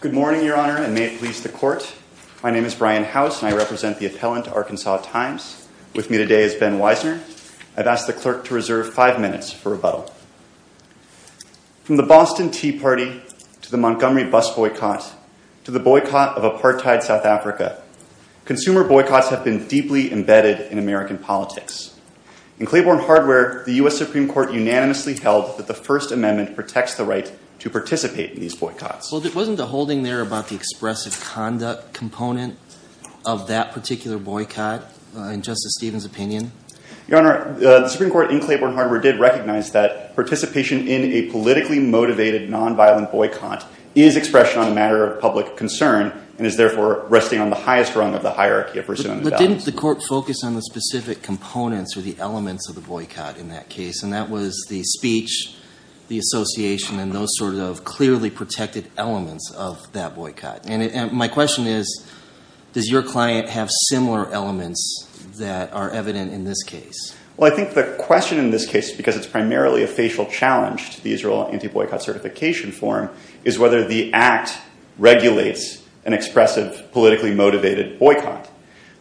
Good morning, Your Honor, and may it please the Court. My name is Brian House and I represent the appellant, Arkansas Times. With me today is Ben Weisner. I've asked the clerk to reserve five minutes for rebuttal. From the Boston Tea Party to the Montgomery bus boycott to the boycott of apartheid South Africa, consumer boycotts have been deeply embedded in American politics. In Claiborne Hardware, the U.S. Supreme Court unanimously held that the First Amendment protects the right to participate in these boycotts. Well, wasn't the holding there about the expressive conduct component of that particular boycott in Justice Stevens' opinion? Your Honor, the Supreme Court in Claiborne Hardware did recognize that participation in a politically motivated nonviolent boycott is expression on a matter of public concern and is therefore resting on the highest rung of the hierarchy of presumed evidence. But didn't the Court focus on the specific components or the elements of the boycott in that case? And that was the speech, the association, and those sort of clearly protected elements of that boycott. And my question is, does your client have similar elements that are evident in this case? Well, I think the question in this case, because it's primarily a facial challenge to the Israel anti-boycott certification form, is whether the act regulates an expressive, politically motivated boycott.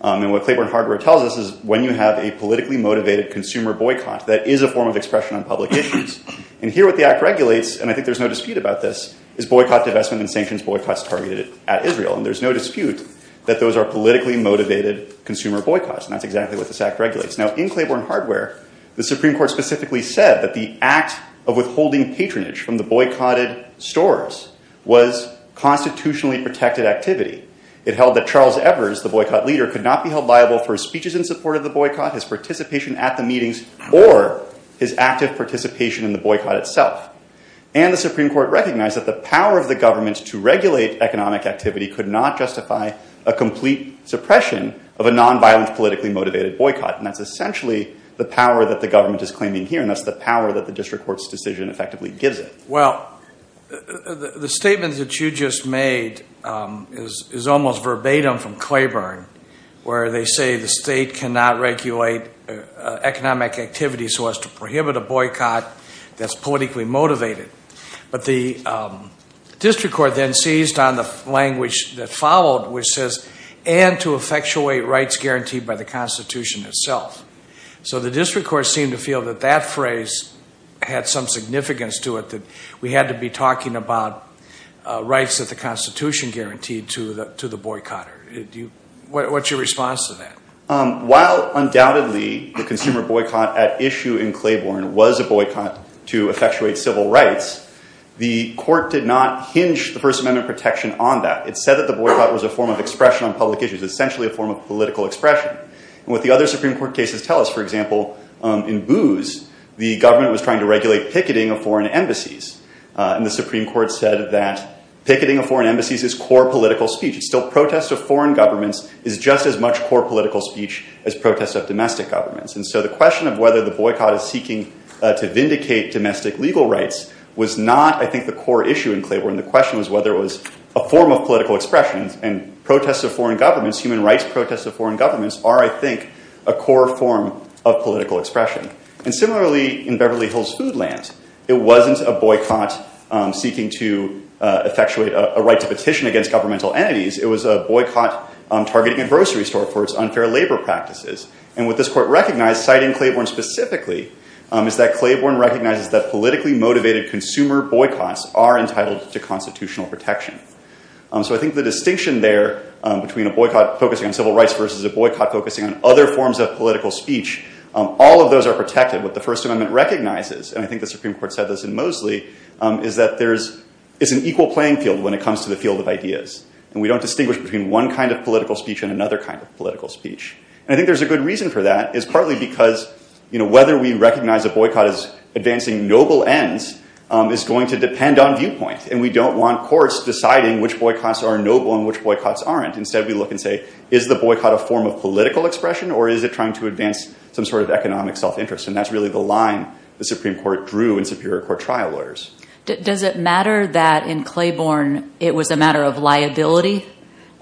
And what Claiborne Hardware tells us is when you have a politically motivated consumer boycott, that is a form of expression on public issues. And here what the act regulates, and I think there's no dispute about this, is boycott, divestment, and sanctions boycotts targeted at Israel. And there's no dispute that those are politically motivated consumer boycotts. And that's exactly what this act regulates. Now in Claiborne Hardware, the Supreme Court specifically said that the act of withholding patronage from the boycotted stores was constitutionally protected activity. It held that Charles Evers, the boycott leader, could not be held liable for his speeches in support of the boycott, his participation at the meetings, or his active participation in the boycott itself. And the Supreme Court recognized that the power of the government to regulate economic activity could not justify a complete suppression of a non-violent, politically motivated boycott. And that's essentially the power that the government is claiming here, and that's the power that the district court's decision effectively gives it. Well, the statement that you just made is almost verbatim from Claiborne, where they say the state cannot regulate economic activity so as to prohibit a boycott that's politically motivated. But the district court then seized on the language that followed, which says, and to effectuate rights guaranteed by the Constitution itself. So the district court seemed to feel that that phrase had some significance to it, that we had to be talking about rights that the Constitution guaranteed to the boycotter. What's your response to that? While undoubtedly the consumer boycott at issue in Claiborne was a boycott to effectuate civil rights, the court did not hinge the First Amendment protection on that. It said that the boycott was a form of expression on public issues, essentially a form of political expression. And what the other Supreme Court cases tell us, for example, in Booz, the government was trying to regulate picketing of foreign embassies. And the Supreme Court said that picketing of foreign embassies is core political speech. It's still protests of foreign governments is just as much core political speech as protests of domestic governments. And so the question of whether the boycott is seeking to vindicate domestic legal rights was not, I think, the core issue in Claiborne. The question was whether it was a form of political expression. And protests of foreign governments, human rights protests of foreign governments, are, I think, a core form of political expression. And similarly in Beverly Hills Foodland, it wasn't a boycott seeking to effectuate a right to petition against governmental entities. It was a boycott targeting a grocery store for its unfair labor practices. And what this court recognized, citing Claiborne specifically, is that Claiborne recognizes that politically motivated consumer boycotts are entitled to constitutional protection. So I think the distinction there between a boycott focusing on civil rights versus a boycott focusing on other forms of political speech, all of those are protected. What the First Amendment recognizes, and I think the Supreme Court said this in Moseley, is that it's an equal playing field when it comes to the field of ideas. And we don't distinguish between one kind of political speech and another kind of political speech. And I think there's a good reason for that. It's partly because whether we recognize a boycott as advancing noble ends is going to depend on viewpoint. And we don't want courts deciding which boycotts are noble and which boycotts aren't. Instead, we look and say, is the boycott a form of political expression, or is it trying to advance some sort of economic self-interest? And that's really the line the Supreme Court drew in Superior Court trial lawyers. Does it matter that in Claiborne it was a matter of liability?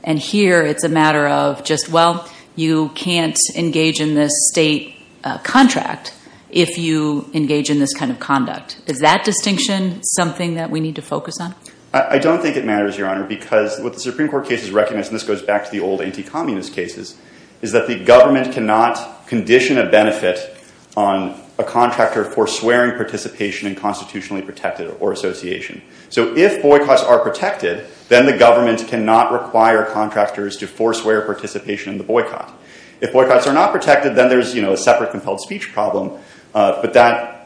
And here it's a matter of just, well, you can't engage in this state contract if you engage in this kind of conduct. Is that distinction something that we need to focus on? I don't think it matters, Your Honor, because what the Supreme Court case has recognized, and this goes back to the old anti-communist cases, is that the government cannot condition a benefit on a contractor for swearing participation in constitutionally protected or association. So if boycotts are protected, then the government cannot require contractors to forswear participation in the boycott. If boycotts are not protected, then there's a separate compelled speech problem. But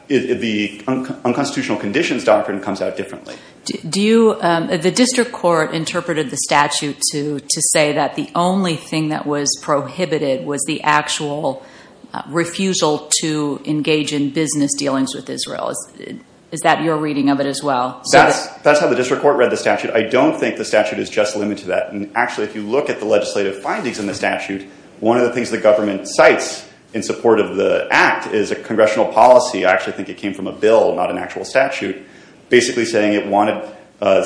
the unconstitutional conditions doctrine comes out differently. The district court interpreted the statute to say that the only thing that was prohibited was the actual refusal to engage in business dealings with Israel. Is that your reading of it as well? That's how the district court read the statute. I don't think the statute is just limited to that. Actually, if you look at the legislative findings in the statute, one of the things the government cites in support of the act is a congressional policy. I actually think it wanted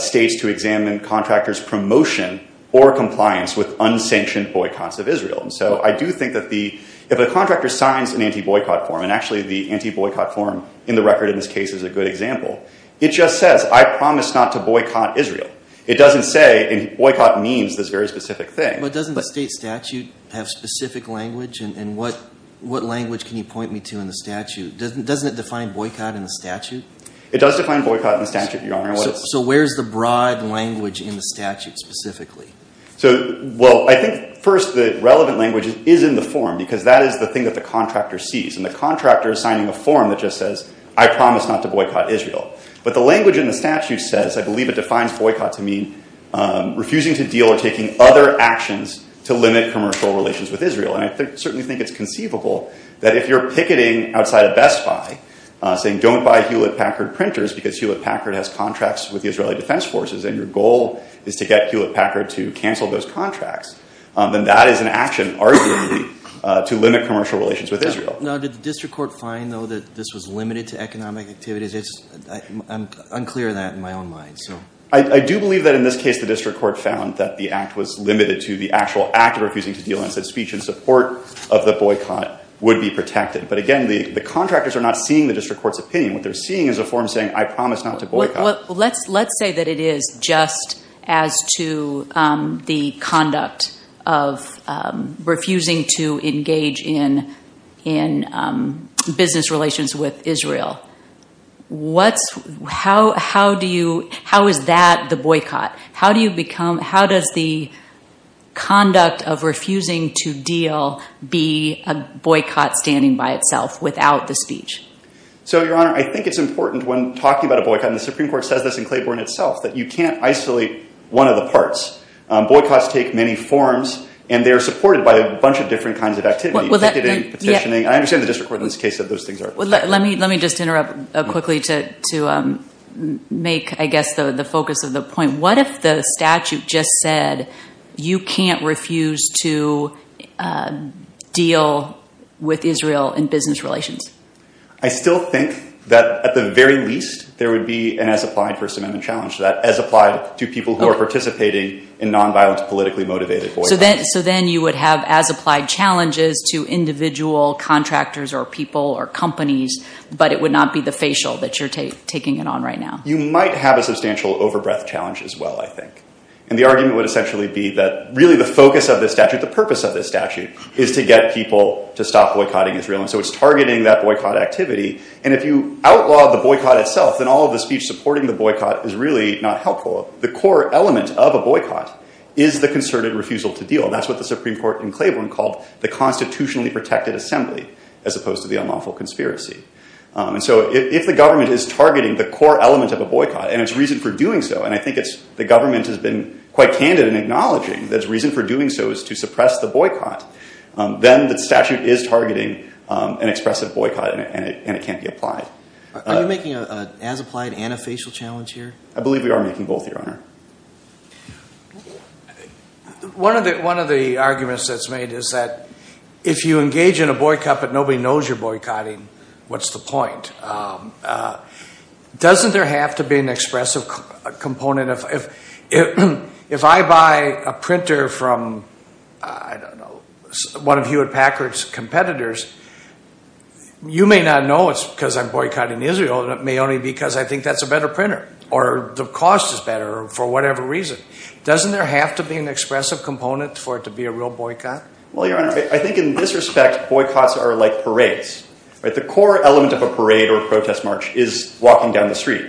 states to examine contractors' promotion or compliance with unsanctioned boycotts of Israel. So I do think that if a contractor signs an anti-boycott form, and actually the anti-boycott form in the record in this case is a good example, it just says, I promise not to boycott Israel. It doesn't say, and boycott means this very specific thing. But doesn't the state statute have specific language? And what language can you point me to in the statute? Doesn't it define boycott in the statute? It does define boycott in the statute, Your Honor. So where's the broad language in the statute specifically? So, well, I think first the relevant language is in the form, because that is the thing that the contractor sees. And the contractor is signing a form that just says, I promise not to boycott Israel. But the language in the statute says, I believe it defines boycott to mean refusing to deal or taking other actions to limit commercial relations with Israel. And I certainly think it's conceivable that if you're picketing outside of Best Buy, saying don't buy Hewlett-Packard printers, because Hewlett-Packard has contracts with the Israeli Defense Forces, and your goal is to get Hewlett-Packard to cancel those contracts, then that is an action, arguably, to limit commercial relations with Israel. Now, did the district court find, though, that this was limited to economic activities? I'm unclear on that in my own mind. I do believe that in this case the district court found that the act was limited to the actual act of refusing to deal and said speech in support of the boycott would be protected. But again, the contractors are not seeing the district court's opinion. What they're seeing is a form saying, I promise not to boycott. Let's say that it is just as to the conduct of refusing to engage in business relations with Israel. How is that the boycott? How does the conduct of refusing to deal be a boycott standing by itself without the speech? So Your Honor, I think it's important when talking about a boycott, and the Supreme Court says this in Claiborne itself, that you can't isolate one of the parts. Boycotts take many forms, and they're supported by a bunch of different kinds of activity. Picketing, petitioning. I understand the district court in this case said those things are protected. Let me just interrupt quickly to make, I guess, the focus of the point. What if the statute just said you can't refuse to deal with Israel in business relations? I still think that at the very least, there would be an as-applied First Amendment challenge. As applied to people who are participating in nonviolent, politically motivated boycotts. So then you would have as-applied challenges to individual contractors, or people, or companies, but it would not be the facial that you're taking it on right now. You might have a substantial over-breath challenge as well, I think, and the argument would essentially be that really the focus of this statute, the purpose of this statute, is to get people to stop boycotting Israel, and so it's targeting that boycott activity, and if you outlaw the boycott itself, then all of the speech supporting the boycott is really not helpful. The core element of a boycott is the concerted refusal to deal, and that's what the Supreme Court in Claiborne called the constitutionally protected assembly, as opposed to the unlawful conspiracy. So if the government is targeting the core element of a boycott, and it's reason for doing so, and I think the government has been quite candid in acknowledging that it's reason for doing so is to suppress the boycott, then the statute is targeting an expressive boycott and it can't be applied. Are you making an as-applied and a facial challenge here? I believe we are making both, Your Honor. One of the arguments that's made is that if you engage in a boycott but nobody knows you're boycott, what's the point? Doesn't there have to be an expressive component? If I buy a printer from, I don't know, one of Hewitt Packard's competitors, you may not know it's because I'm boycotting Israel, it may only be because I think that's a better printer, or the cost is better, or for whatever reason. Doesn't there have to be an expressive component for it to be a real boycott? Well, Your Honor, I think in this respect, boycotts are like parades. The core element of a parade or a protest march is walking down the street.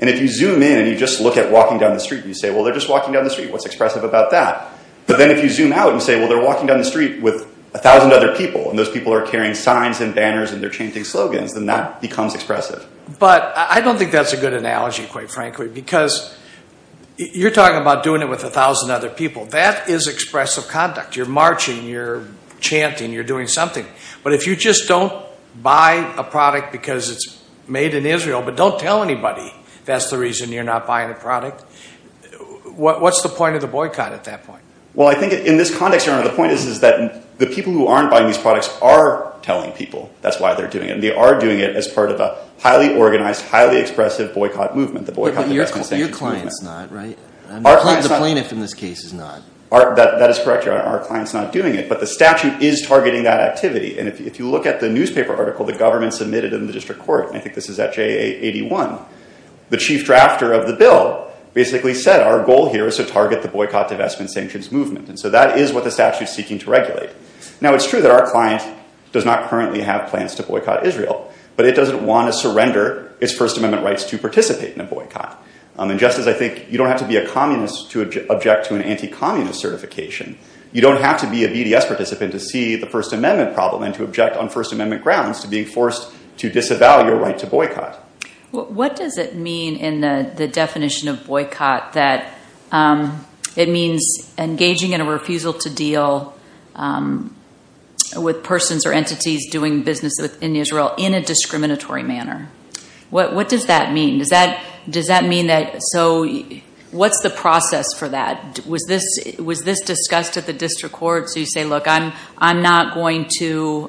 And if you zoom in and you just look at walking down the street and you say, well, they're just walking down the street, what's expressive about that? But then if you zoom out and you say, well, they're walking down the street with a thousand other people and those people are carrying signs and banners and they're chanting slogans, then that becomes expressive. But I don't think that's a good analogy, quite frankly, because you're talking about doing it with a thousand other people. That is expressive conduct. You're marching, you're chanting, you're doing something. But if you just don't buy a product because it's made in Israel, but don't tell anybody that's the reason you're not buying the product, what's the point of the boycott at that point? Well, I think in this context, Your Honor, the point is that the people who aren't buying these products are telling people that's why they're doing it. And they are doing it as part of a highly organized, highly expressive boycott movement, the Boycott the Rest and Sanctions movement. But your client's not, right? The plaintiff in this case is not. That is correct, Your Honor. Our client's not doing it. But the statute is targeting that activity. And if you look at the newspaper article the government submitted in the district court, and I think this is at JA81, the chief drafter of the bill basically said, our goal here is to target the Boycott the Rest and Sanctions movement. And so that is what the statute's seeking to regulate. Now it's true that our client does not currently have plans to boycott Israel. But it doesn't want to surrender its First Amendment rights to participate in a boycott. And just as I think you don't have to be a communist to object to an anti-communist certification, you don't have to be a BDS participant to see the First Amendment problem and to object on First Amendment grounds to being forced to disavow your right to boycott. What does it mean in the definition of boycott that it means engaging in a refusal to deal with persons or entities doing business in Israel in a discriminatory manner? What does that mean? Does that mean that, so what's the process for that? Was this discussed at the district court? So you say, look, I'm not going to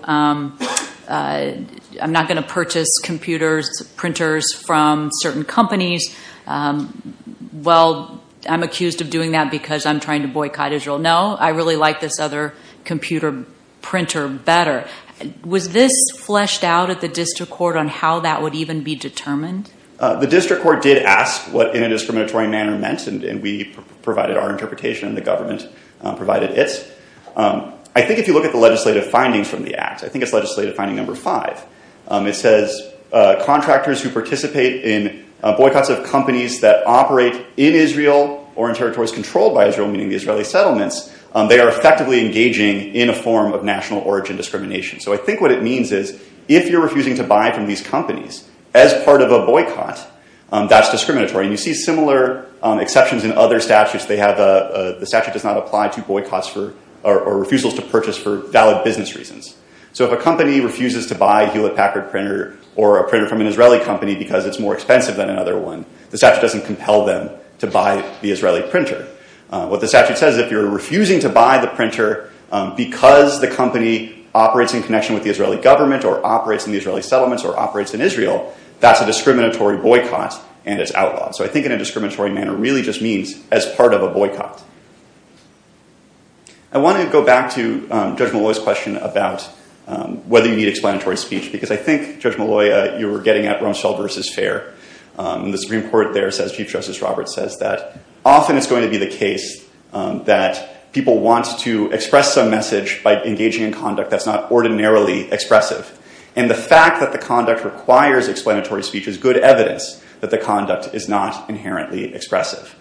purchase computers, printers from certain companies. Well, I'm accused of doing that because I'm trying to boycott Israel. No, I really like this other computer printer better. Was this fleshed out at the district court on how that would even be determined? The district court did ask what in a discriminatory manner meant. We provided our interpretation and the government provided its. I think if you look at the legislative findings from the act, I think it's legislative finding number five. It says contractors who participate in boycotts of companies that operate in Israel or in territories controlled by Israel, meaning the Israeli settlements, they are effectively engaging in a form of national origin discrimination. So I think what it means is if you're refusing to buy from these companies as part of a boycott, that's discriminatory. You see similar exceptions in other statutes. The statute does not apply to boycotts or refusals to purchase for valid business reasons. So if a company refuses to buy a Hewlett Packard printer or a printer from an Israeli company because it's more expensive than another one, the statute doesn't compel them to buy the Israeli printer. What the statute says, if you're refusing to buy the printer because the company operates in connection with the Israeli government or operates in the Israeli settlements or as outlawed. So I think in a discriminatory manner, it really just means as part of a boycott. I want to go back to Judge Molloy's question about whether you need explanatory speech, because I think, Judge Molloy, you were getting at Rumsfeld versus Fair. The Supreme Court there says, Chief Justice Roberts says, that often it's going to be the case that people want to express a message by engaging in conduct that's not ordinarily expressive. And the fact that the conduct requires explanatory speech is good evidence that the conduct is not inherently expressive.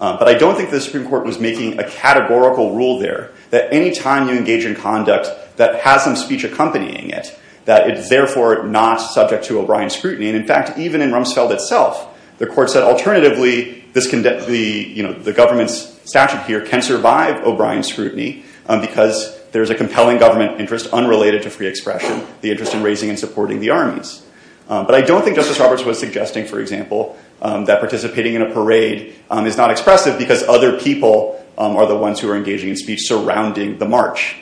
But I don't think the Supreme Court was making a categorical rule there that any time you engage in conduct that has some speech accompanying it, that it's therefore not subject to O'Brien scrutiny. And in fact, even in Rumsfeld itself, the court said, alternatively, the government's statute here can survive O'Brien scrutiny because there is a compelling government interest unrelated to free expression, the interest in raising and supporting the armies. But I don't think Justice Roberts was suggesting, for example, that participating in a parade is not expressive because other people are the ones who are engaging in speech surrounding the march.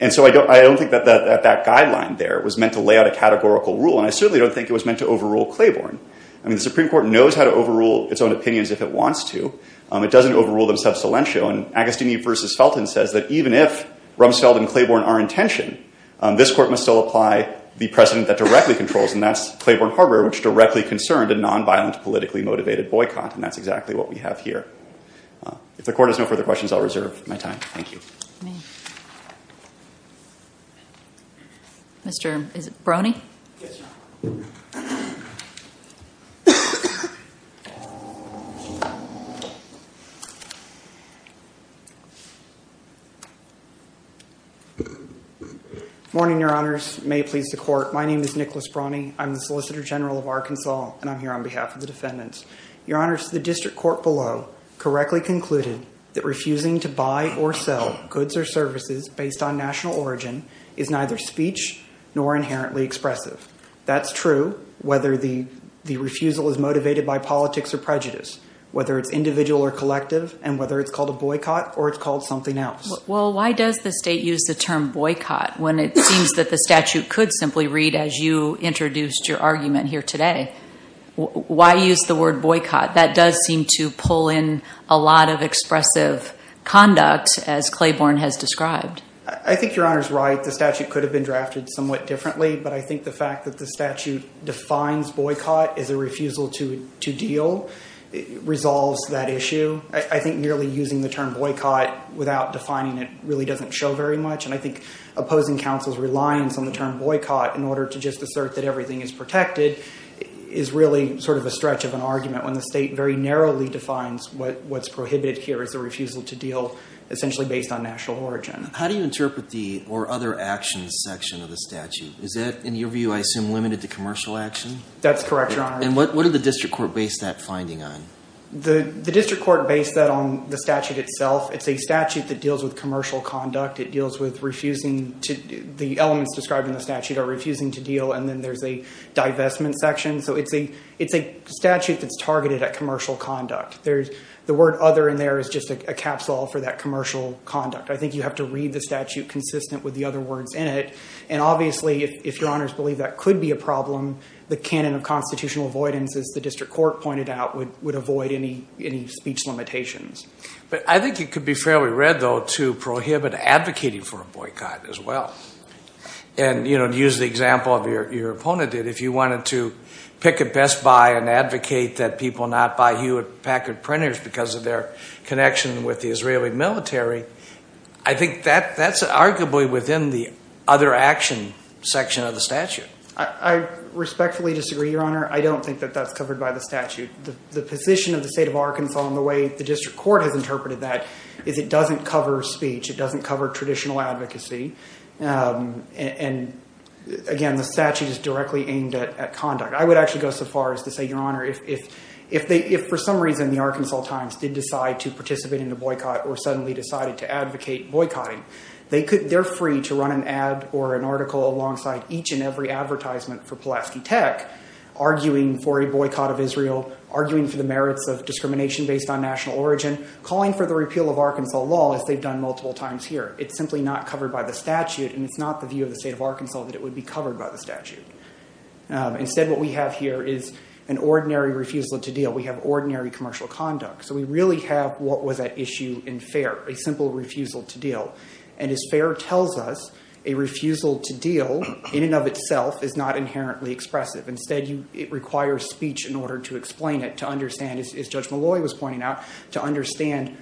And so I don't think that that guideline there was meant to lay out a categorical rule. And I certainly don't think it was meant to overrule Claiborne. I mean, the Supreme Court knows how to overrule its own opinions if it wants to. It doesn't overrule them sub salientio. And Agostini versus Felton says that even if Rumsfeld and Claiborne are in tension, this court must still apply the precedent that directly controls. And that's Claiborne Harbor, which directly concerned a nonviolent politically motivated boycott. And that's exactly what we have here. If the court has no further questions, I'll reserve my time. Thank you. Mr. Brony? Morning, Your Honors. May it please the court. My name is Nicholas Brony. I'm the Solicitor General of Arkansas, and I'm here on behalf of the defendants. Your Honors, the district court below correctly concluded that refusing to buy or sell goods or services based on national origin is neither speech nor inherently expressive. That's true whether the refusal is motivated by politics or prejudice, whether it's individual or collective, and whether it's called a boycott or it's called something else. Well, why does the state use the term boycott when it seems that the statute could simply read, as you introduced your argument here today, why use the word boycott? That does seem to pull in a lot of expressive conduct, as Claiborne has described. I think Your Honor's right. The statute could have been drafted somewhat differently. But I think the fact that the statute defines boycott as a refusal to to deal resolves that issue. I think merely using the term boycott without defining it really doesn't show very much. And I think opposing counsel's reliance on the term boycott in order to just assert that everything is protected is really sort of a stretch of an argument when the state very narrowly defines what's prohibited here as a refusal to deal essentially based on national origin. How do you interpret the or other actions section of the statute? Is that, in your view, I assume, limited to commercial action? That's correct, Your Honor. And what did the district court base that finding on? The district court based that on the statute itself. It's a statute that deals with commercial conduct. It deals with refusing to the elements described in the statute are refusing to deal. And then there's a divestment section. So it's a it's a statute that's targeted at commercial conduct. There's the word other in there is just a capsule for that commercial conduct. I think you have to read the statute consistent with the other words in it. And obviously, if Your Honor's believe that could be a problem, the canon of constitutional avoidance, as the district court pointed out, would avoid any any speech limitations. But I think it could be fairly read, though, to prohibit advocating for a boycott as well. And, you know, to use the example of your opponent, that if you wanted to pick it best by an advocate that people not buy Hewlett Packard printers because of their connection with the Israeli military, I think that that's arguably within the other action section of the statute. I respectfully disagree, Your Honor. I don't think that that's covered by the statute. The position of the state of Arkansas and the way the district court has interpreted that is it doesn't cover speech. It doesn't cover traditional advocacy. And again, the statute is directly aimed at conduct. I would actually go so far as to say, Your Honor, if if they if for some reason the Arkansas Times did decide to participate in the boycott or suddenly decided to advocate boycotting, they could they're free to run an ad or an article alongside each and every advertisement for Pulaski Tech, arguing for a boycott of Israel, arguing for the merits of discrimination based on national origin, calling for the repeal of Arkansas law, as they've done multiple times here. It's simply not covered by the statute. And it's not the view of the state of Arkansas that it would be covered by the statute. Instead, what we have here is an ordinary refusal to deal. We have ordinary commercial conduct. So we really have what was at issue in FAIR, a simple refusal to deal. And as FAIR tells us, a refusal to deal in and of itself is not inherently expressive. Instead, it requires speech in order to explain it, to understand, as Judge Malloy was pointing out, to understand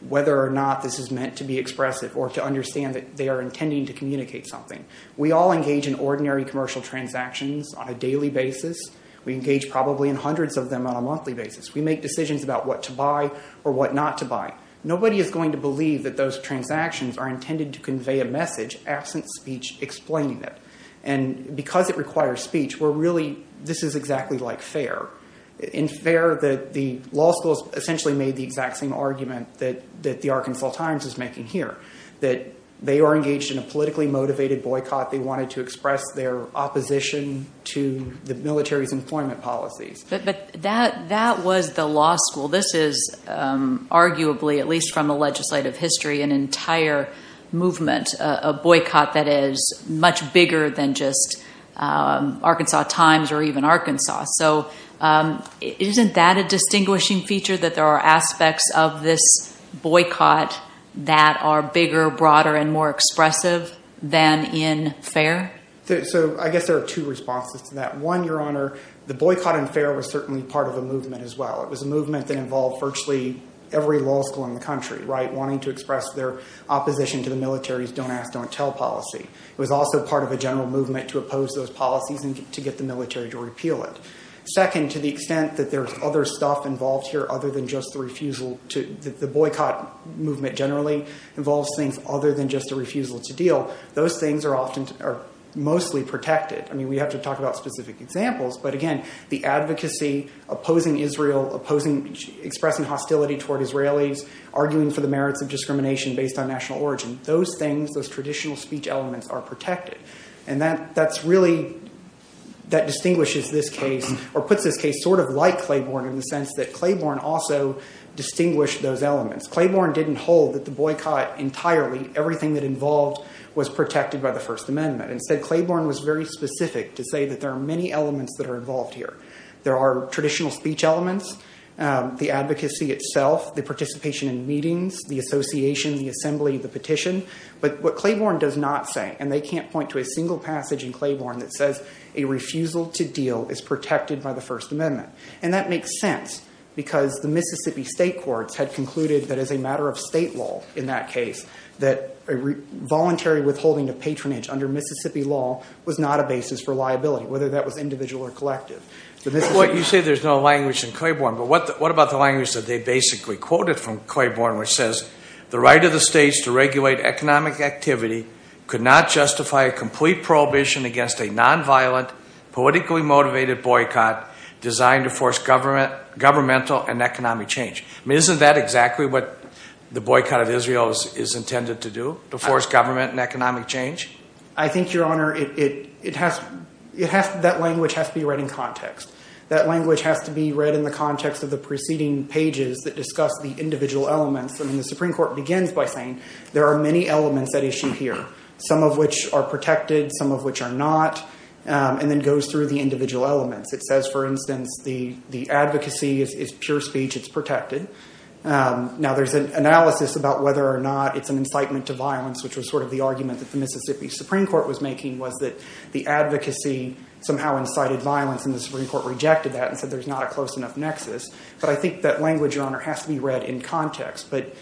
whether or not this is meant to be expressive or to understand that they are intending to communicate something. We all engage in ordinary commercial transactions on a daily basis. We engage probably in hundreds of them on a monthly basis. We make decisions about what to buy or what not to buy. Nobody is going to believe that those transactions are intended to convey a message absent speech explaining it. And because it requires speech, we're really, this is exactly like FAIR. In FAIR, the law schools essentially made the exact same argument that the Arkansas Times is making here, that they are engaged in a politically motivated boycott. They wanted to express their opposition to the military's employment policies. But that was the law school. This is arguably, at least from a legislative history, an entire movement, a boycott that is much bigger than just Arkansas Times or even Arkansas. So isn't that a distinguishing feature, that there are aspects of this boycott that are bigger, broader and more expressive than in FAIR? So I guess there are two responses to that. One, Your Honor, the boycott in FAIR was certainly part of the movement as well. It was a movement that involved virtually every law school in the country, wanting to express their opposition to the military's don't ask, don't tell policy. It was also part of a general movement to oppose those policies and to get the military to repeal it. Second, to the extent that there's other stuff involved here other than just the refusal to, the boycott movement generally involves things other than just a refusal to deal. Those things are often, are mostly protected. I mean, we have to talk about specific examples. But again, the advocacy, opposing Israel, opposing, expressing hostility toward Israelis, arguing for the merits of discrimination based on national origin. Those things, those traditional speech elements are protected. And that, that's really, that distinguishes this case or puts this case sort of like Claiborne in the sense that Claiborne also distinguished those elements. Claiborne didn't hold that the boycott entirely, everything that involved was protected by the First Amendment. Instead, Claiborne was very specific to say that there are many elements that are involved here. There are traditional speech elements, the advocacy itself, the participation in meetings, the association, the assembly, the petition. But what Claiborne does not say, and they can't point to a single passage in Claiborne that says a refusal to deal is protected by the First Amendment. And that makes sense because the Mississippi state courts had concluded that as a matter of state law in that case, that a voluntary withholding of patronage under Mississippi law was not a basis for liability, whether that was individual or collective. But you say there's no language in Claiborne, but what, what about the language that they basically quoted from Claiborne, which says the right of the states to regulate economic activity could not justify a complete prohibition against a nonviolent, politically motivated boycott designed to force government, governmental and economic change. I mean, isn't that exactly what the boycott of Israel is intended to do, to force government and economic change? I think, Your Honor, it, it, it has, it has, that language has to be read in context. That language has to be read in the context of the preceding pages that discuss the individual elements. I mean, the Supreme Court begins by saying there are many elements at issue here, some of which are protected, some of which are not, and then goes through the individual elements. It says, for instance, the, the advocacy is pure speech. It's protected. Now there's an analysis about whether or not it's an incitement to violence, which was sort of the argument that the Mississippi Supreme Court was making, was that the advocacy somehow incited violence and the Supreme Court rejected that and said there's not a close enough nexus. But I think that language, Your Honor, has to be read in context, but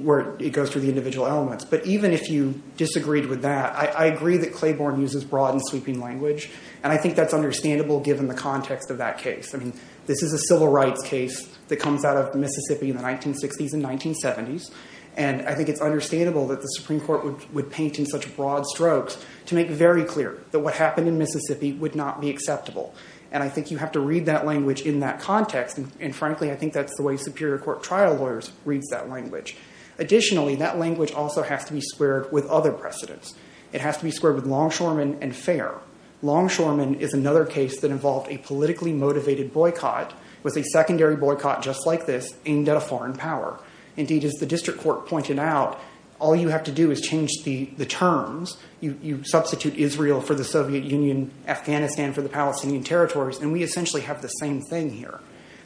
where it goes through the individual elements. But even if you disagreed with that, I, I agree that Claiborne uses broad and sweeping language, and I think that's understandable given the context of that case. I mean, this is a civil rights case that comes out of Mississippi in the 1960s and 1970s, and I think it's understandable that the Supreme Court would, would paint in such broad strokes to make very clear that what happened in Mississippi would not be acceptable. And I think you have to read that language in that context, and frankly, I think that's the way Superior Court trial lawyers reads that language. Additionally, that language also has to be squared with other precedents. It has to be squared with longshoreman and fair. Longshoreman is another case that involved a politically motivated boycott with a secondary boycott just like this aimed at a foreign power. Indeed, as the district court pointed out, all you have to do is change the, the terms. You, you substitute Israel for the Soviet Union, Afghanistan for the Palestinian territories, and we essentially have the same thing here.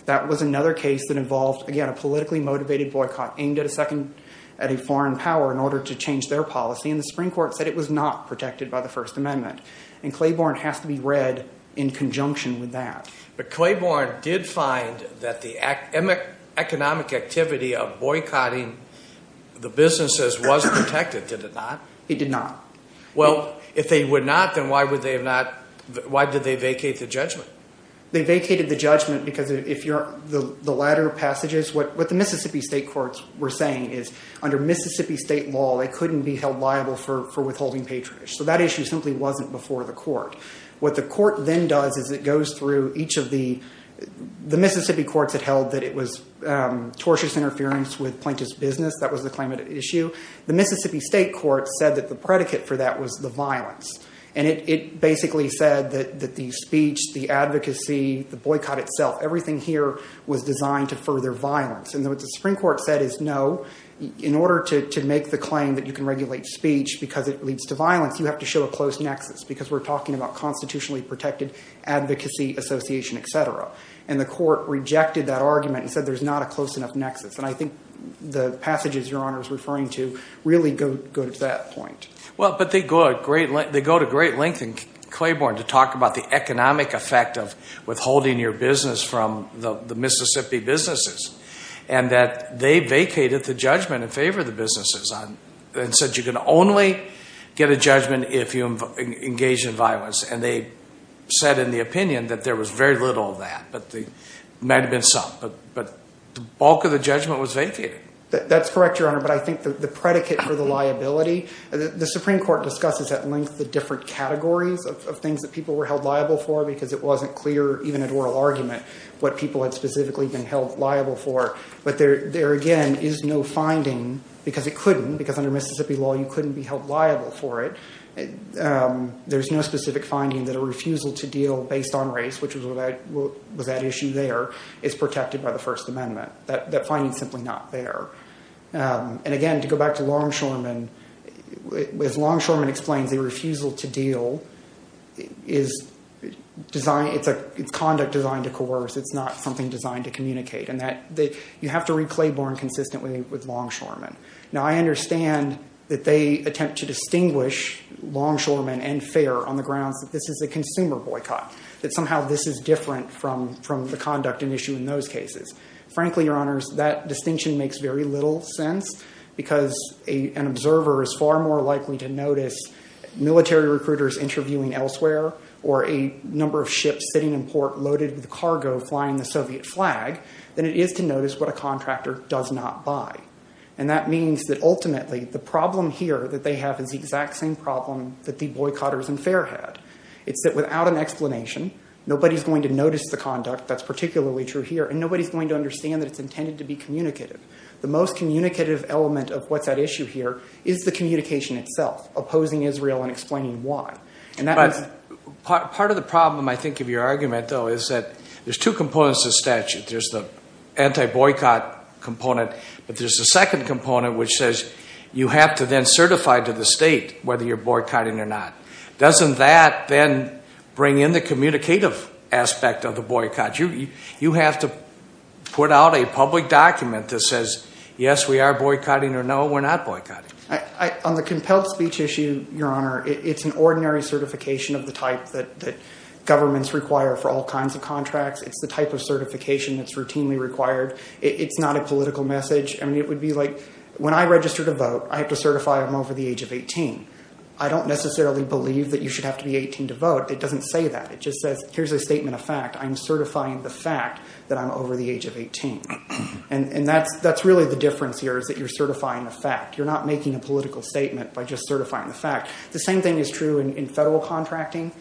That was another case that involved, again, a politically motivated boycott aimed at a second, at a foreign power in order to change their policy. And the Supreme Court said it was not protected by the First Amendment. And Claiborne has to be read in conjunction with that. But Claiborne did find that the economic activity of boycotting the businesses was protected, did it not? It did not. Well, if they would not, then why would they have not, why did they vacate the judgment? They vacated the judgment because if you're, the latter passages, what the Mississippi state courts were saying is under Mississippi state law, they couldn't be held liable for withholding patronage. So that issue simply wasn't before the court. What the court then does is it goes through each of the, the Mississippi courts had held that it was tortious interference with plaintiff's business. That was the claimant issue. The Mississippi state court said that the predicate for that was the violence. And it basically said that, that the speech, the advocacy, the boycott itself, everything here was designed to further violence. And what the Supreme Court said is no, in order to make the claim that you can regulate speech because it leads to violence, you have to show a close nexus because we're talking about constitutionally protected advocacy, association, et cetera. And the court rejected that argument and said, there's not a close enough nexus. And I think the passages your Honor is referring to really go to that point. Well, but they go a great length, they go to great length in Claiborne to talk about the economic effect of withholding your business from the Mississippi businesses and that they vacated the judgment in favor of the businesses and said, you can only get a judgment if you engage in violence. And they said in the opinion that there was very little of that, but there might've been some, but the bulk of the judgment was vacated. That's correct, your Honor. But I think the predicate for the liability, the Supreme Court discusses at length, the different categories of things that people were held liable for, because it wasn't clear, even at oral argument, what people had specifically been held liable for. But there, there again is no finding because it couldn't, because under Mississippi law, you couldn't be held liable for it. There's no specific finding that a refusal to deal based on race, which was that issue there, is protected by the first amendment. That finding is simply not there. And again, to go back to Longshoreman, as Longshoreman explains, the refusal to deal is designed, it's conduct designed to coerce. It's not something designed to communicate. And that you have to read Claiborne consistently with Longshoreman. Now, I understand that they attempt to distinguish Longshoreman and Fair on the grounds that this is a consumer boycott, that somehow this is different from, from the conduct and issue in those cases. Frankly, your Honors, that distinction makes very little sense because an observer is far more likely to notice military recruiters interviewing elsewhere or a number of ships sitting in port loaded with cargo flying the Soviet flag than it is to notice what a contractor does not buy. And that means that ultimately the problem here that they have is the exact same problem that the boycotters in Fair had. It's that without an explanation, nobody's going to notice the conduct. That's particularly true here. And nobody's going to understand that it's intended to be communicative. The most communicative element of what's at issue here is the communication itself, opposing Israel and explaining why. And that means- Part of the problem, I think, of your argument though, is that there's two components to the statute. There's the anti-boycott component, but there's a second component which says you have to then certify to the state whether you're boycotting or not. Doesn't that then bring in the communicative aspect of the boycott? You have to put out a public document that says, yes, we are boycotting or no, we're not boycotting. On the compelled speech issue, your Honor, it's an ordinary certification of the type that governments require for all kinds of contracts. It's the type of certification that's routinely required. It's not a political message. I mean, it would be like when I register to vote, I have to certify I'm over the age of 18. I don't necessarily believe that you should have to be 18 to vote. It doesn't say that. It just says, here's a statement of fact. I'm certifying the fact that I'm over the age of 18. And that's really the difference here is that you're certifying the fact. You're not making a political statement by just certifying the fact. The same thing is true in federal contracting.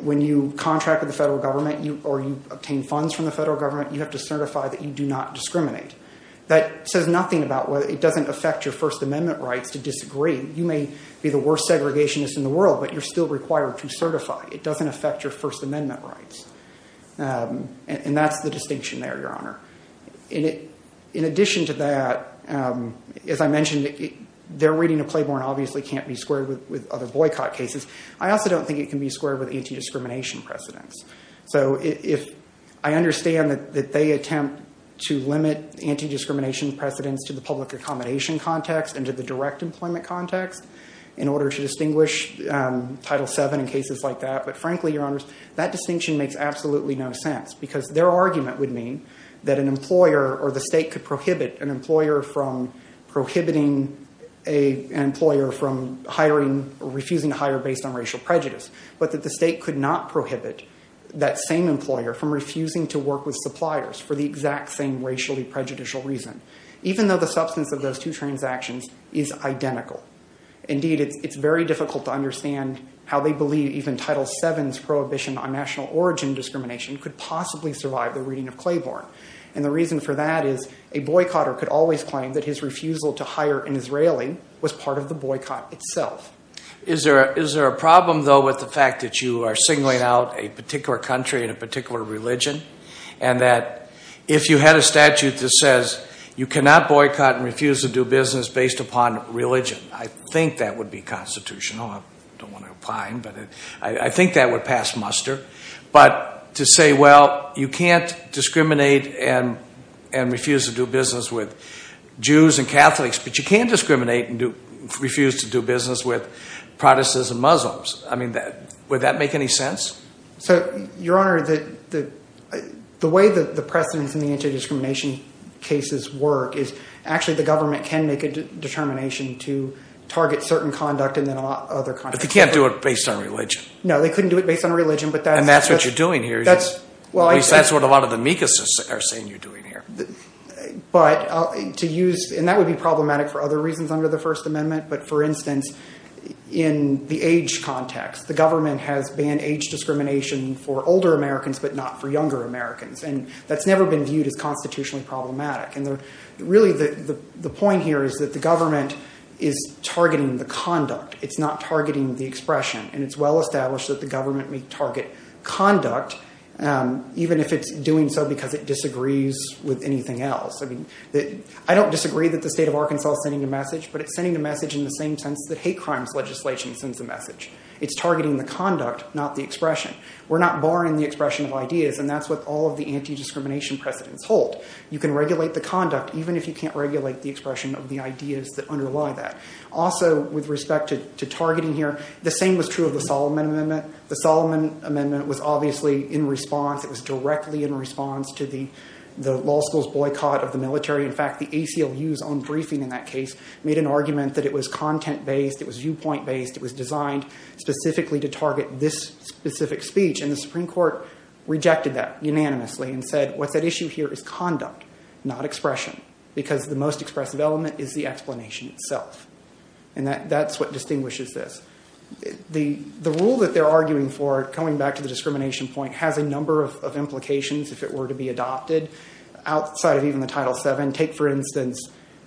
When you contract with the federal government or you obtain funds from the federal government, you have to certify that you do not discriminate. That says nothing about whether it doesn't affect your first amendment rights to disagree. You may be the worst segregationist in the world, but you're still required to certify. It doesn't affect your first amendment rights. And that's the distinction there, your Honor. In addition to that, as I mentioned, their reading of Claiborne obviously can't be squared with other boycott cases. I also don't think it can be squared with anti-discrimination precedents. So if I understand that they attempt to limit anti-discrimination precedents to the public accommodation context and to the direct employment context in order to distinguish Title VII in cases like that, but frankly, your Honor, that distinction makes absolutely no sense because their argument would mean that an employer or the state could prohibit an employer from refusing to hire based on racial prejudice, but that the state could not prohibit that same employer from refusing to work with suppliers for the exact same racially prejudicial reason, even though the substance of those two transactions is identical. Indeed, it's very difficult to understand how they believe even Title VII's prohibition on national origin discrimination could possibly survive the reading of Claiborne. And the reason for that is a boycotter could always claim that his refusal to hire an Israeli was part of the boycott itself. Is there a problem though with the fact that you are signaling out a particular country and a particular religion and that if you had a statute that says you cannot boycott and refuse to do business based upon religion, I think that would be constitutional, I don't want to opine, but I think that would pass muster. But to say, well, you can't discriminate and refuse to do business with Jews and Catholics, but you can discriminate and refuse to do business with Protestants and Muslims, I mean, would that make any sense? So, Your Honor, the way that the precedents in the anti-discrimination cases work is actually the government can make a determination to target certain conduct and then other conduct. But they can't do it based on religion. No, they couldn't do it based on religion. And that's what you're doing here. At least that's what a lot of the MECAs are saying you're doing here. But to use, and that would be problematic for other reasons under the first amendment, but for instance, in the age context, the government has banned age discrimination for older Americans, but not for younger Americans. And that's never been viewed as constitutionally problematic. And really the point here is that the government is targeting the conduct. It's not targeting the expression and it's well established that the government may target conduct, even if it's doing so because it disagrees with anything else. I mean, I don't disagree that the state of Arkansas is sending a message, but it's sending a message in the same sense that hate crimes legislation sends a message, it's targeting the conduct, not the expression. We're not barring the expression of ideas. And that's what all of the anti-discrimination precedents hold. You can regulate the conduct, even if you can't regulate the expression of the ideas that underlie that. Also with respect to targeting here, the same was true of the Solomon amendment, the Solomon amendment was obviously in response. It was directly in response to the, the law school's boycott of the military. In fact, the ACLU's own briefing in that case made an argument that it was content based, it was viewpoint based, it was designed specifically to target this specific speech and the Supreme court rejected that unanimously and said, what's at issue here is conduct, not expression, because the most expressive element is the explanation itself. And that that's what distinguishes this. The, the rule that they're arguing for, coming back to the discrimination point, has a number of implications. If it were to be adopted outside of even the title seven, take for instance,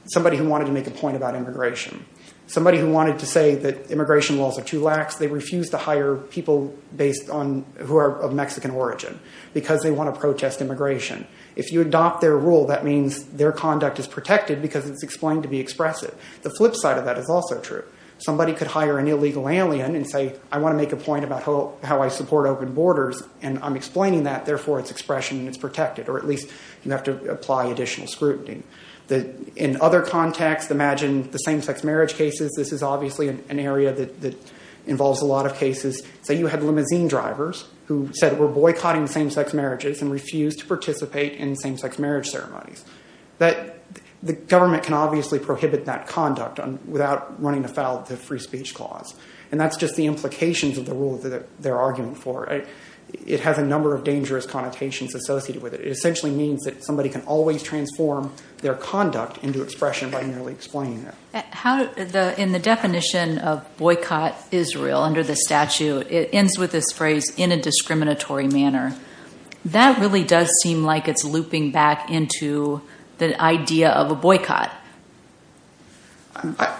somebody who wanted to make a point about immigration, somebody who wanted to say that immigration laws are too lax. They refuse to hire people based on who are of Mexican origin because they want to protest immigration. If you adopt their rule, that means their conduct is protected because it's explained to be expressive. The flip side of that is also true. Somebody could hire an illegal alien and say, I want to make a point about how I support open borders. And I'm explaining that therefore it's expression and it's protected, or at least you have to apply additional scrutiny. The, in other contexts, imagine the same sex marriage cases. This is obviously an area that involves a lot of cases. Say you had limousine drivers who said we're boycotting the same sex marriages and refused to participate in same sex marriage ceremonies, that the government can obviously prohibit that conduct without running afoul of the free speech clause, and that's just the implications of the rule that they're arguing for. It has a number of dangerous connotations associated with it. It essentially means that somebody can always transform their conduct into expression by merely explaining it. How, in the definition of boycott Israel under the statute, it ends with this phrase in a discriminatory manner. That really does seem like it's looping back into the idea of a boycott.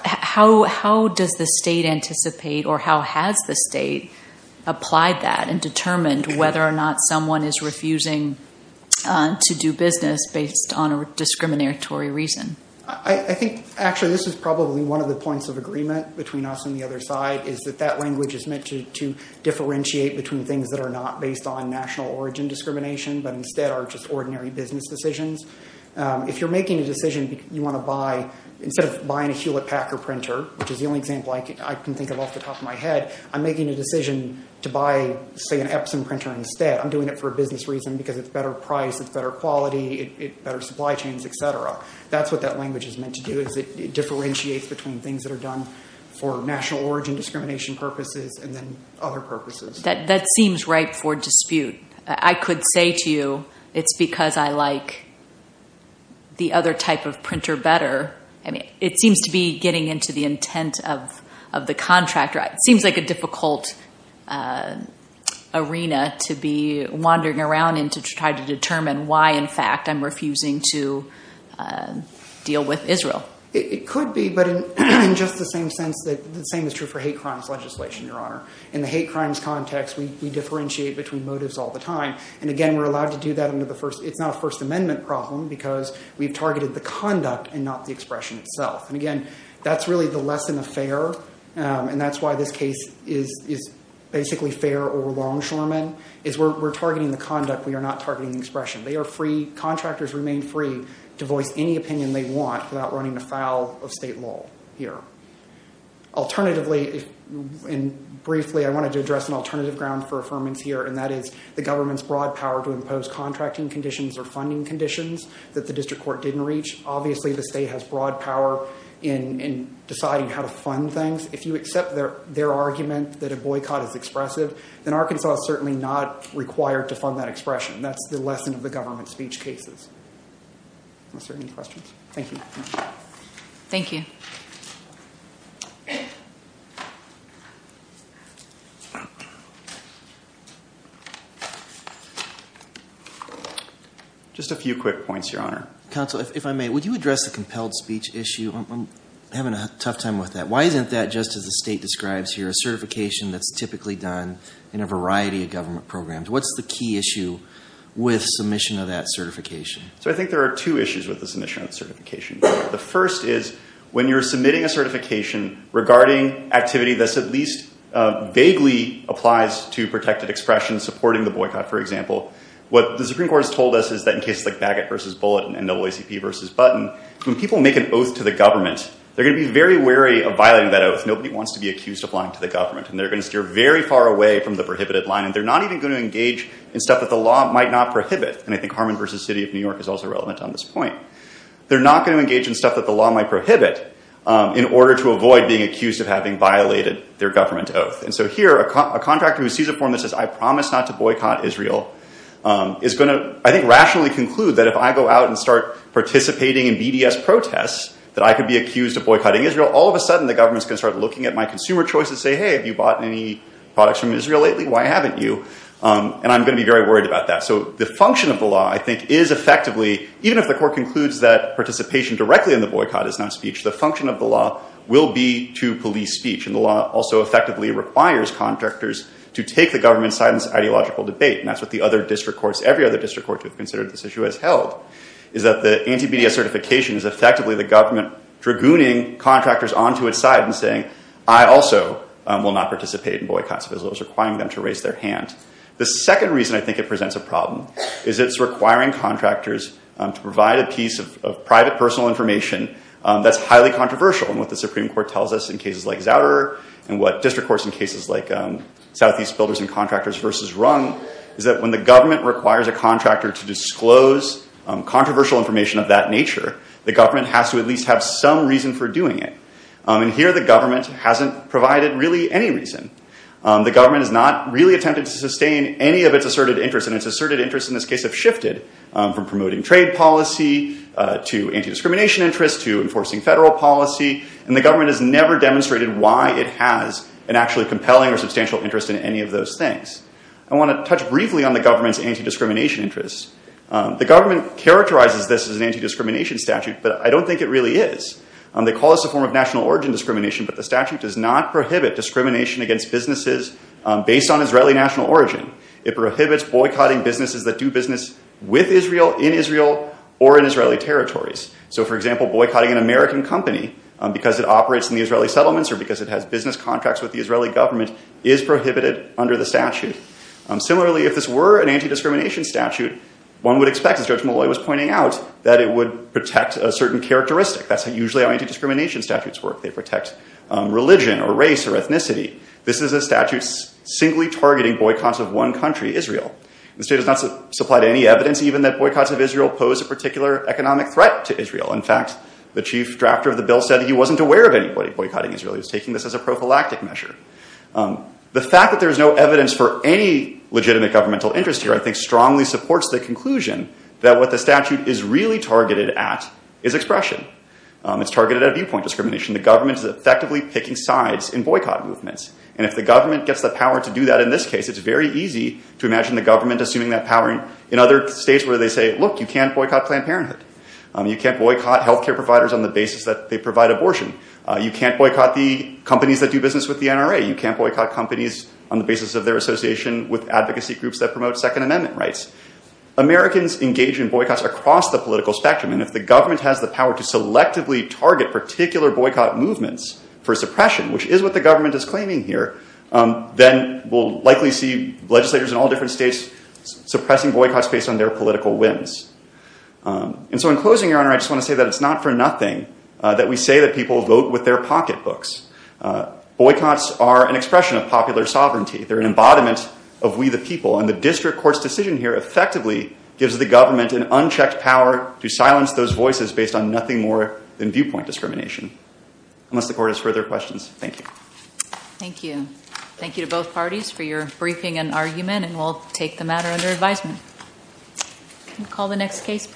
How, how does the state anticipate or how has the state applied that and determined whether or not someone is refusing to do business based on a discriminatory reason? I think actually this is probably one of the points of agreement between us and the other side is that that language is meant to differentiate between things that are not based on national origin discrimination, but instead are just ordinary business decisions. If you're making a decision, you want to buy, instead of buying a Hewlett Packard printer, which is the only example I can think of off the top of my head, I'm making a decision to buy say an Epson printer instead. I'm doing it for a business reason because it's better price, it's better quality, better supply chains, et cetera. That's what that language is meant to do is it differentiates between things that are done for national origin discrimination purposes and then other purposes. That, that seems right for dispute. I could say to you, it's because I like the other type of printer better. I mean, it seems to be getting into the intent of, of the contractor. It seems like a difficult arena to be wandering around and to try to determine why in fact I'm refusing to deal with Israel. It could be, but in just the same sense that the same is true for hate crimes context, we, we differentiate between motives all the time. And again, we're allowed to do that under the first, it's not a first amendment problem because we've targeted the conduct and not the expression itself. And again, that's really the lesson of FAIR. And that's why this case is, is basically FAIR or longshoremen is we're, we're targeting the conduct. We are not targeting the expression. They are free, contractors remain free to voice any opinion they want without running afoul of state law here. Alternatively, and briefly, I wanted to address an alternative ground for affirmance here. And that is the government's broad power to impose contracting conditions or funding conditions that the district court didn't reach. Obviously the state has broad power in, in deciding how to fund things. If you accept their, their argument that a boycott is expressive, then Arkansas is certainly not required to fund that expression. That's the lesson of the government speech cases. Is there any questions? Thank you. Thank you. Just a few quick points, Your Honor. Counsel, if I may, would you address the compelled speech issue? I'm having a tough time with that. Why isn't that just as the state describes here, a certification that's typically done in a variety of government programs, what's the key issue with submission of that certification? So I think there are two issues with the submission of certification. The first is when you're submitting a certification regarding activity, this at least vaguely applies to protected expression, supporting the boycott, for example. What the Supreme Court has told us is that in cases like Bagot versus Bulletin and NAACP versus Button, when people make an oath to the government, they're going to be very wary of violating that oath. Nobody wants to be accused of lying to the government. And they're going to steer very far away from the prohibited line. And they're not even going to engage in stuff that the law might not prohibit. And I think Harmon versus City of New York is also relevant on this point. They're not going to engage in stuff that the law might prohibit in order to avoid being accused of having violated their government oath. And so here, a contractor who sees a form that says, I promise not to boycott Israel, is going to, I think, rationally conclude that if I go out and start participating in BDS protests, that I could be accused of boycotting Israel. All of a sudden, the government's going to start looking at my consumer choices and say, hey, have you bought any products from Israel lately? Why haven't you? And I'm going to be very worried about that. So the function of the law, I think, is effectively, even if the court concludes that participation directly in the boycott is not speech, the function of the law will be to police speech. And the law also effectively requires contractors to take the government's side in this ideological debate. And that's what the other district courts, every other district court who have considered this issue, has held, is that the anti-BDS certification is effectively the government dragooning contractors onto its side and saying, I also will not participate in boycotts of Israel. It's requiring them to raise their hand. The second reason I think it presents a problem is it's requiring contractors to provide a piece of private personal information that's highly controversial. And what the Supreme Court tells us in cases like Zouder and what district courts in cases like Southeast Builders and Contractors versus Rung is that when the government requires a contractor to disclose controversial information of that nature, the government has to at least have some reason for doing it. And here, the government hasn't provided really any reason. The government has not really attempted to sustain any of its asserted interests, and its asserted interests in this case have shifted from promoting trade policy to anti-discrimination interests to enforcing federal policy. And the government has never demonstrated why it has an actually compelling or substantial interest in any of those things. I want to touch briefly on the government's anti-discrimination interests. The government characterizes this as an anti-discrimination statute, but I don't think it really is. They call this a form of national origin discrimination, but the statute does not prohibit discrimination against businesses based on Israeli national origin. It prohibits boycotting businesses that do business with Israel, in Israel, or in Israeli territories. So for example, boycotting an American company because it operates in the Israeli settlements or because it has business contracts with the Israeli government is prohibited under the statute. Similarly, if this were an anti-discrimination statute, one would expect, as Judge Molloy was pointing out, that it would protect a certain characteristic. That's usually how anti-discrimination statutes work. They protect religion or race or ethnicity. This is a statute singly targeting boycotts of one country, Israel. The state has not supplied any evidence even that boycotts of Israel pose a particular economic threat to Israel. In fact, the chief drafter of the bill said that he wasn't aware of anybody boycotting Israel. He was taking this as a prophylactic measure. The fact that there is no evidence for any legitimate governmental interest here, I think, strongly supports the conclusion that what the statute is really targeted at is expression. It's targeted at viewpoint discrimination. The government is effectively picking sides in boycott movements. And if the government gets the power to do that in this case, it's very easy to imagine the government assuming that power in other states where they say, look, you can't boycott Planned Parenthood. You can't boycott health care providers on the basis that they provide abortion. You can't boycott the companies that do business with the NRA. You can't boycott companies on the basis of their association with advocacy groups that promote Second Amendment rights. Americans engage in boycotts across the political spectrum. And if the government has the power to selectively target particular boycott movements for suppression, which is what the government is claiming here, then we'll likely see legislators in all different states suppressing boycotts based on their political whims. And so in closing, Your Honor, I just want to say that it's not for nothing that we say that people vote with their pocketbooks. Boycotts are an expression of popular sovereignty. They're an embodiment of we the people. And the district court's decision here effectively gives the government an opportunity to pronounce those voices based on nothing more than viewpoint discrimination. Unless the court has further questions. Thank you. Thank you. Thank you to both parties for your briefing and argument. And we'll take the matter under advisement. Can we call the next case please?